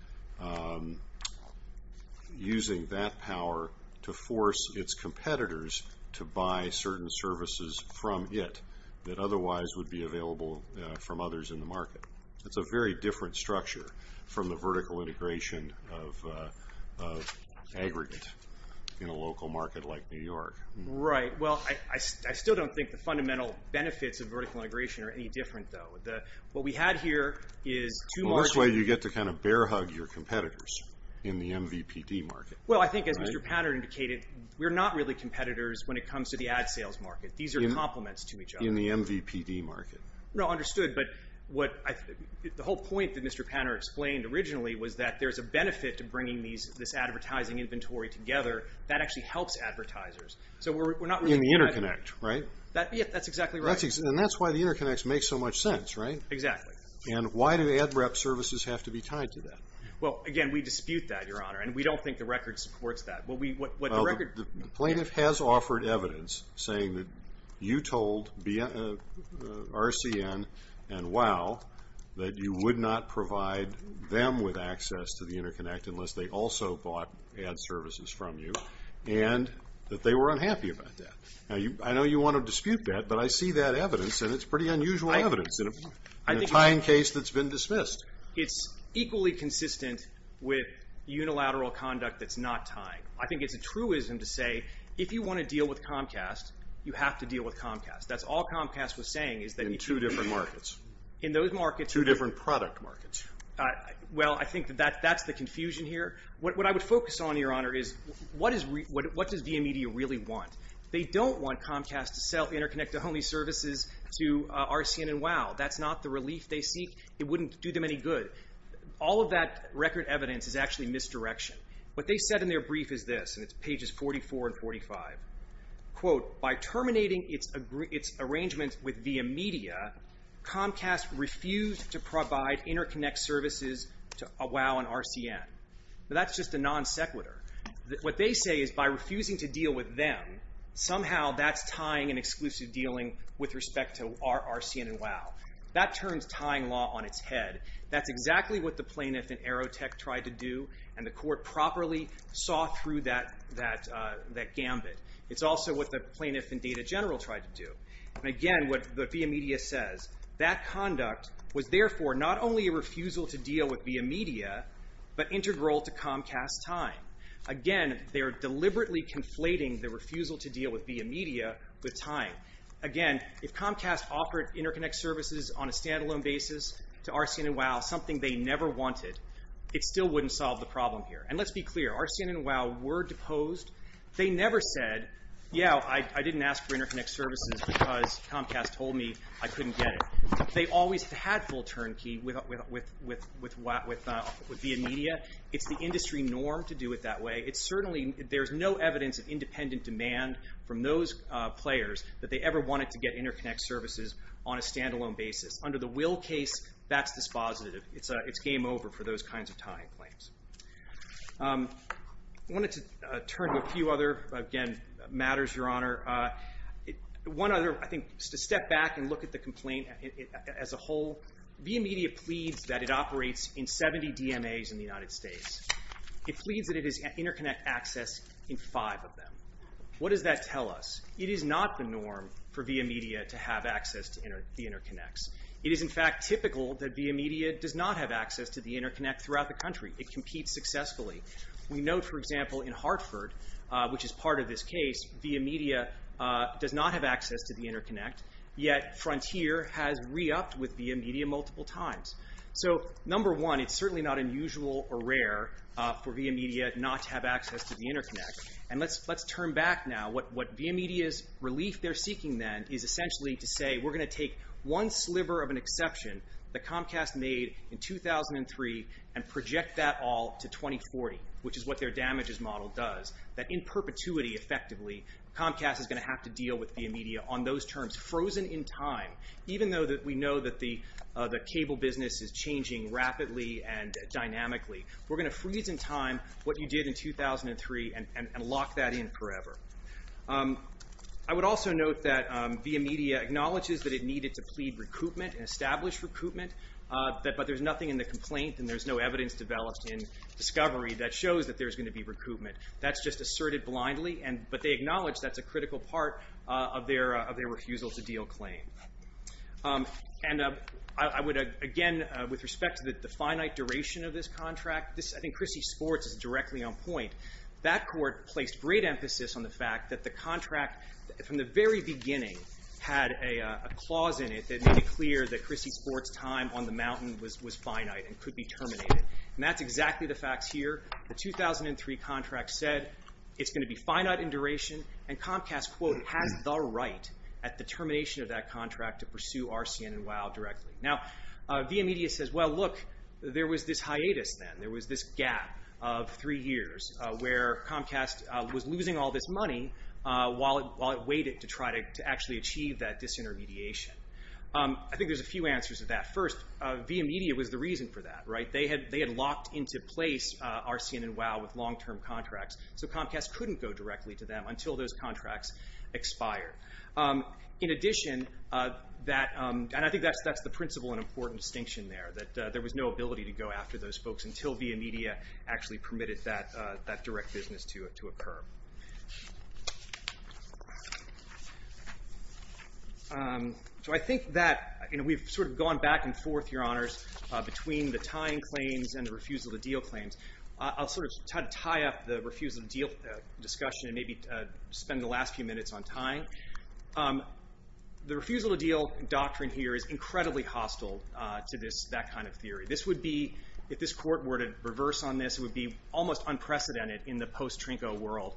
using that power to force its competitors to buy certain services from it that otherwise would be a threat to their business and their ability to be available from others in the market. That's a very different structure from the vertical integration of aggregate in a local market like New York. Right. Well, I still don't think the fundamental benefits of vertical integration are any different, though. What we had here is two margin... Well, this way, you get to kind of bear hug your competitors in the MVPD market. Well, I think, as Mr. Pattern indicated, we're not really competitors when it comes to the ad sales market. These are compliments to each other. In the MVPD market. No, understood, but what... The whole point that Mr. Pattern explained originally was that there's a benefit to bringing this advertising inventory together that actually helps advertisers. So we're not really... In the interconnect, right? Yeah, that's exactly right. And that's why the interconnects make so much sense, right? Exactly. And why do ad rep services have to be tied to that? Well, again, we dispute that, Your Honor, and we don't think the record supports that. Well, the plaintiff has offered evidence saying that you told RCN and WOW that you would not provide them with access to the interconnect unless they also bought ad services from you and that they were unhappy about that. Now, I know you want to dispute that, but I see that evidence and it's pretty unusual evidence in a tying case that's been dismissed. It's equally consistent with unilateral conduct that's not tying. I think it's a truism to say, if you want to deal with Comcast, you have to deal with Comcast. That's all Comcast was saying. In two different markets. In those markets. Two different product markets. Well, I think that that's the confusion here. What I would focus on, Your Honor, is what does VIA Media really want? They don't want Comcast to sell interconnect-only services to RCN and WOW. That's not the relief they seek. It wouldn't do them any good. All of that record evidence is actually misdirection. What they said in their brief is this, and it's pages 44 and 45. Quote, by terminating its arrangements with VIA Media, Comcast refused to provide interconnect services to WOW and RCN. That's just a non sequitur. What they say is, by refusing to deal with them, somehow that's tying an exclusive dealing with respect to RCN and WOW. That turns tying law on its head. That's exactly what the plaintiff in Aerotech tried to do, and the court properly saw through that gambit. It's also what the plaintiff in Data General tried to do. Again, what VIA Media says, that conduct was therefore not only a refusal to deal with VIA Media, but integral to Comcast's tying. Again, they're deliberately conflating the refusal to deal with VIA Media with tying. Again, if Comcast offered interconnect services on a standalone basis to RCN and WOW, something they never wanted, it still wouldn't solve the problem here. Let's be clear, RCN and WOW were deposed. They never said, yeah, I didn't ask for interconnect services because Comcast told me I couldn't get it. They always had full turnkey with VIA Media. It's the industry norm to do it that way. It's certainly, there's no evidence of independent demand from those players that they ever wanted to get interconnect services on a standalone basis. Under the Will case, that's dispositive. It's game over for those kinds of tying claims. I wanted to turn to a few other, again, matters, Your Honor. One other, I think, to step back and look at the complaint as a whole, VIA Media pleads that it operates in 70 DMAs in the United States. It pleads that it has in five of them. What does that tell us? It is not the norm for VIA Media to have access to the interconnects. It is, in fact, typical that VIA Media does not have access to the interconnect throughout the country. It competes successfully. We know, for example, in Hartford, which is part of this case, VIA Media does not have access to the interconnect, yet Frontier has re-upped with VIA Media multiple times. Number one, it's certainly not unusual or rare for VIA Media not to have access to the interconnect. Let's turn back now. What VIA Media's relief they're seeking then is essentially to say, we're going to take one sliver of an exception that Comcast made in 2003 and project that all to 2040, which is what their damages model does, that in perpetuity, effectively, Comcast is going to have to deal with VIA Media on those terms frozen in time, even though we know that the cable business is changing rapidly and dynamically. We're going to freeze in time what you did in 2003 and lock that in forever. I would also note that VIA Media acknowledges that it needed to plead recoupment and establish recoupment, but there's nothing in the complaint and there's no evidence developed in discovery that shows that there's going to be recoupment. That's just asserted blindly, but they acknowledge that's a critical part of their refusal to deal claim. I would, again, with respect to the finite duration of this contract, I think Chrissy Sports is directly on point. That court placed great emphasis on the fact that the contract, from the very beginning, had a clause in it that made it clear that Chrissy Sports' time on the mountain was finite and could be terminated. And that's exactly the facts here. The 2003 contract said it's going to be finite in duration and Comcast has the right at the termination of that contract to pursue RCN and WOW directly. Now, VIA Media says, well, look, there was this hiatus then. There was this gap of three years where Comcast was losing all this money while it waited to try to actually achieve that disintermediation. I think there's a few answers to that. First, VIA Media was the reason for that. They had locked into place RCN and WOW with long-term contracts, so Comcast couldn't go directly to them until those contracts expired. In addition, and I think that's the principle and important distinction there, that there was no ability to go after those folks until VIA Media actually permitted that direct business to occur. So I think that we've sort of gone back and forth, Your Honors, between the tying claims and the refusal-to-deal claims. I'll sort of tie up the refusal-to-deal discussion and maybe spend the last few minutes on tying. The refusal-to-deal doctrine here is incredibly hostile to that kind of theory. This would be, if this Court were to reverse on this, it would be almost unprecedented in the post-Trinco world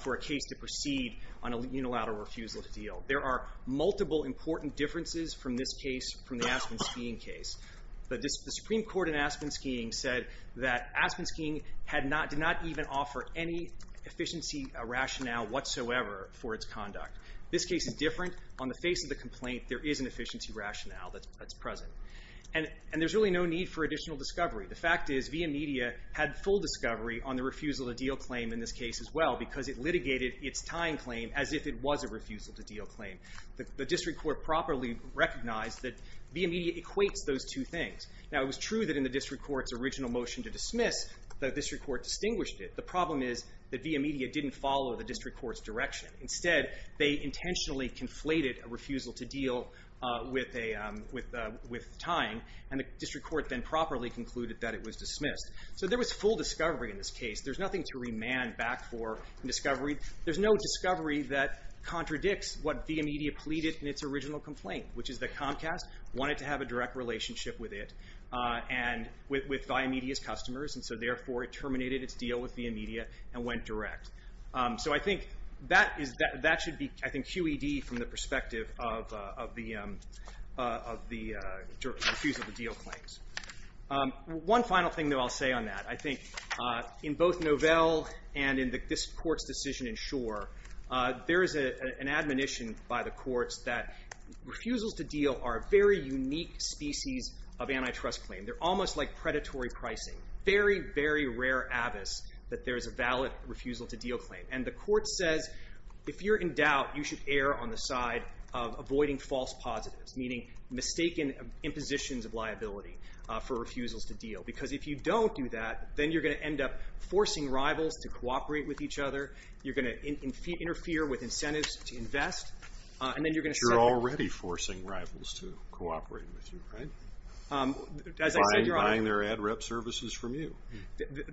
for a case to proceed on a unilateral refusal-to-deal. There are multiple important differences from this case, from the Aspen speeing case. The Supreme Court in Aspen speeing said that Aspen speeing did not even offer any efficiency rationale whatsoever for its conduct. This case is different. On the face of the complaint, there is an efficiency rationale that's present. And there's really no need for additional discovery. The fact is, VIA Media had full discovery on the refusal-to-deal claim in this case as well because it litigated its tying claim as if it was a refusal-to-deal claim. The District Court properly recognized that VIA Media equates those two things. Now, it was true that in the District Court's original motion to dismiss, the District Court distinguished it. The problem is that VIA Media didn't follow the District Court's direction. Instead, they intentionally conflated a refusal-to-deal with tying, and the District Court then properly concluded that it was dismissed. So there was full discovery in this case. There's nothing to remand back for discovery. There's no discovery that contradicts what VIA Media pleaded in its original complaint, which is that Comcast wanted to have a direct relationship with it and with VIA Media's customers, and so therefore it terminated its deal with VIA Media and went direct. So I think that should be QED from the perspective of the refusal-to-deal claims. One final thing that I'll say on that. I think in both Novell and in this Court's decision in Schor, there is an admonition by the courts that refusals-to-deal are a very unique species of antitrust claims. They're almost like predatory pricing. Very, very rare abyss that there's a valid refusal-to-deal claim. And the Court says if you're in doubt, you should err on the side of avoiding false positives, meaning mistaken impositions of liability for refusals-to-deal because if you don't do that, then you're going to end up forcing rivals to cooperate with each other, you're going to interfere with incentives to invest, and then you're going to suffer. You're already forcing rivals to cooperate with you, right? Um, as I said, Your Honor- Buying their ad rep services from you.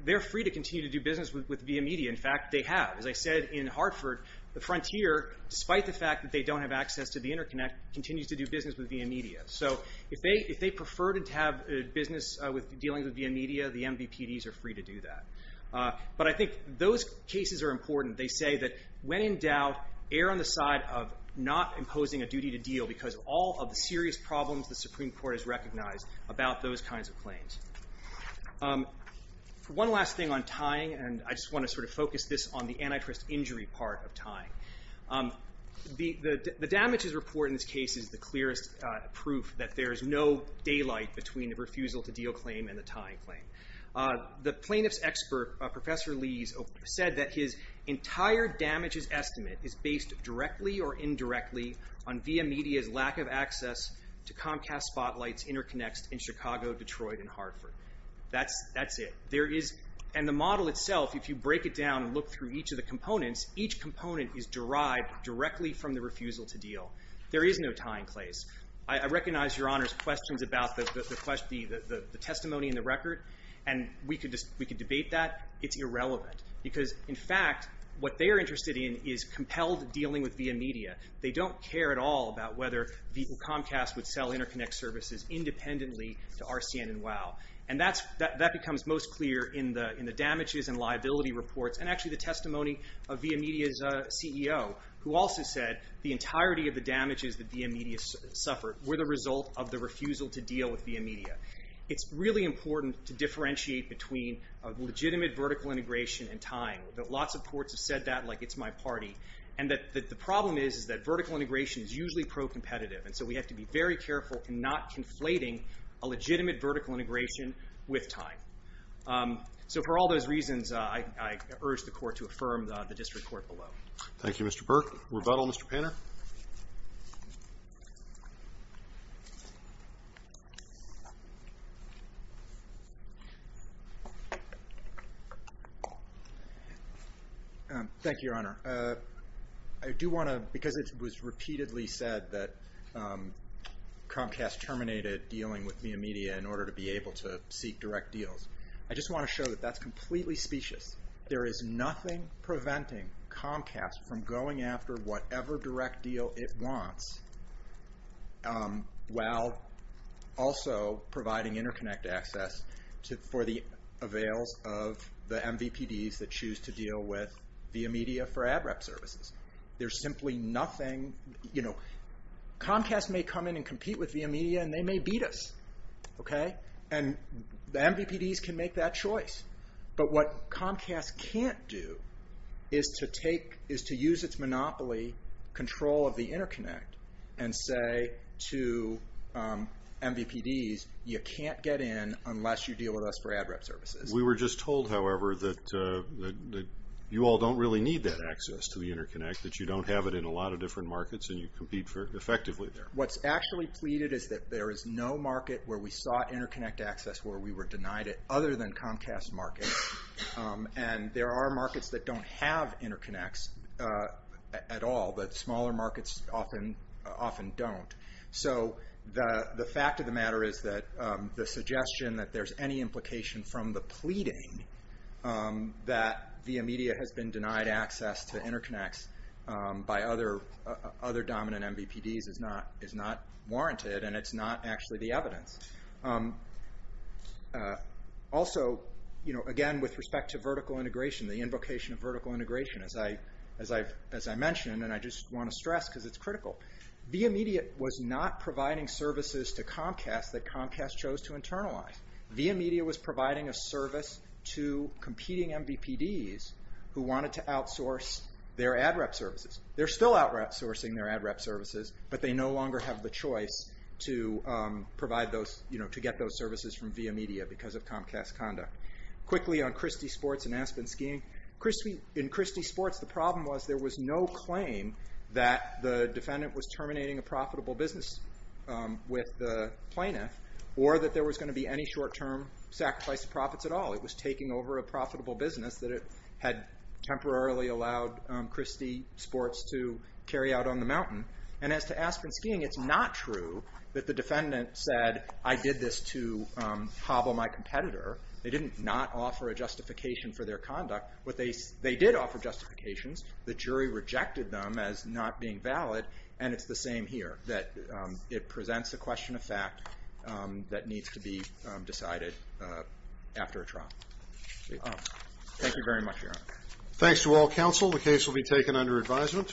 They're free to continue to do business with Via Media. In fact, they have. As I said, in Hartford, the frontier, despite the fact that they don't have access to the interconnect, continues to do business with Via Media. So if they prefer to have business dealing with Via Media, the MVPDs are free to do that. But I think those cases are important. They say that when in doubt, err on the side of not imposing a duty to deal because of all of the serious problems the Supreme Court has recognized about those kinds of claims. Um, one last thing on tying, and I just want to sort of focus this on the antitrust injury part of tying. Um, the damages report in this case is the clearest proof that there is no daylight between the refusal to deal claim and the tying claim. Uh, the plaintiff's expert, Professor Lees, said that his entire damages estimate is based directly or indirectly on Via Media's lack of access to Comcast Spotlight's interconnects in Chicago, Detroit, and Hartford. That's, that's it. There is, and the model itself, if you break it down and look through each of the components, each component is derived directly from the refusal to deal. There is no tying claims. I recognize Your Honor's questions about the testimony in the record, and we could debate that. In fact, it's irrelevant. Because, in fact, what they're interested in is compelled dealing with Via Media. They don't care at all about whether Comcast would sell interconnect services independently to RCN and WOW. And that's, that becomes most clear in the, in the damages and liability reports, and actually the testimony of Via Media's, uh, CEO, who also said the entirety of the damages that Via Media suffered were the result of the refusal to deal with Via Media. It's really important to differentiate between a legitimate vertical integration and tying. Lots of courts have said that like it's my party. And that, that the problem is, is that vertical integration is usually pro-competitive. And so we have to be very careful in not conflating a legitimate vertical integration with tying. Um, so for all those reasons, uh, I, I urge the court to affirm the, the district court below. Thank you, Mr. Burke. Rebuttal, Mr. Panner? Um, thank you, Your Honor. Uh, I do want to, because it was repeatedly said that, um, Comcast terminated dealing with Via Media in order to be able to seek direct deals. I just want to show from going after whatever direct deals that are being made by Via Media and, and, and, and, and, and, and, and, and, and, and, and, and, and, and, and, and, and, and. Um, there's simply nothing, you know, Comcast may come in and compete with Via Media and they may beat us. Okay? And the MVPDs can make that choice. But what Comcast can't do is to take, is to use its monopoly control of the Interconnect and say to, um, MVPDs, you can't get in unless you deal with us for ad rep services. We were just told, however, that, that, that you all don't really need that access to the Interconnect, that you don't have it in a lot of different markets and you compete for, effectively there. What's actually pleaded is that there is no market where we sought Interconnect access where we were denied it other than Comcast markets. Um, and there are markets that don't have Interconnects, uh, at all, but smaller markets often, often don't. So, the, the fact of the matter is that, um, the suggestion that there's any implication from the pleading, um, that via media has been denied access to Interconnects, um, by other, other dominant MVPDs is not, is not warranted and it's not actually the evidence. Um, uh, also, you know, again with respect to vertical integration, the invocation of vertical integration as I, as I've, as I mentioned and I just want to stress because it's critical. Via media was not providing services to Comcast that Comcast chose to internalize. Via media was providing a service to competing MVPDs who wanted to outsource their ad rep services. They're still outsourcing their ad rep services, but they no longer have the choice to, um, provide those, you know, to get those services from via media because of Comcast conduct. Quickly on Christie Sports and Aspen Skiing. Christie, in Christie Sports the problem was there was no claim that the defendant was terminating a profitable business, um, with the plaintiff or that there was going to be any short term sacrifice of profits at all. It was taking over a profitable business that it had temporarily allowed, um, Christie Sports to carry out on the mountain and as to Aspen Skiing, it's not true that the defendant said I did this to, um, trouble my competitor. They didn't not offer a justification for their conduct, but they, they did offer justifications. The jury rejected them as not being valid and it's the same here. That, um, it presents a question of fact, um, that needs to be, um, decided, uh, after a trial. Thank you very much. Thanks to all counsel. The case will be taken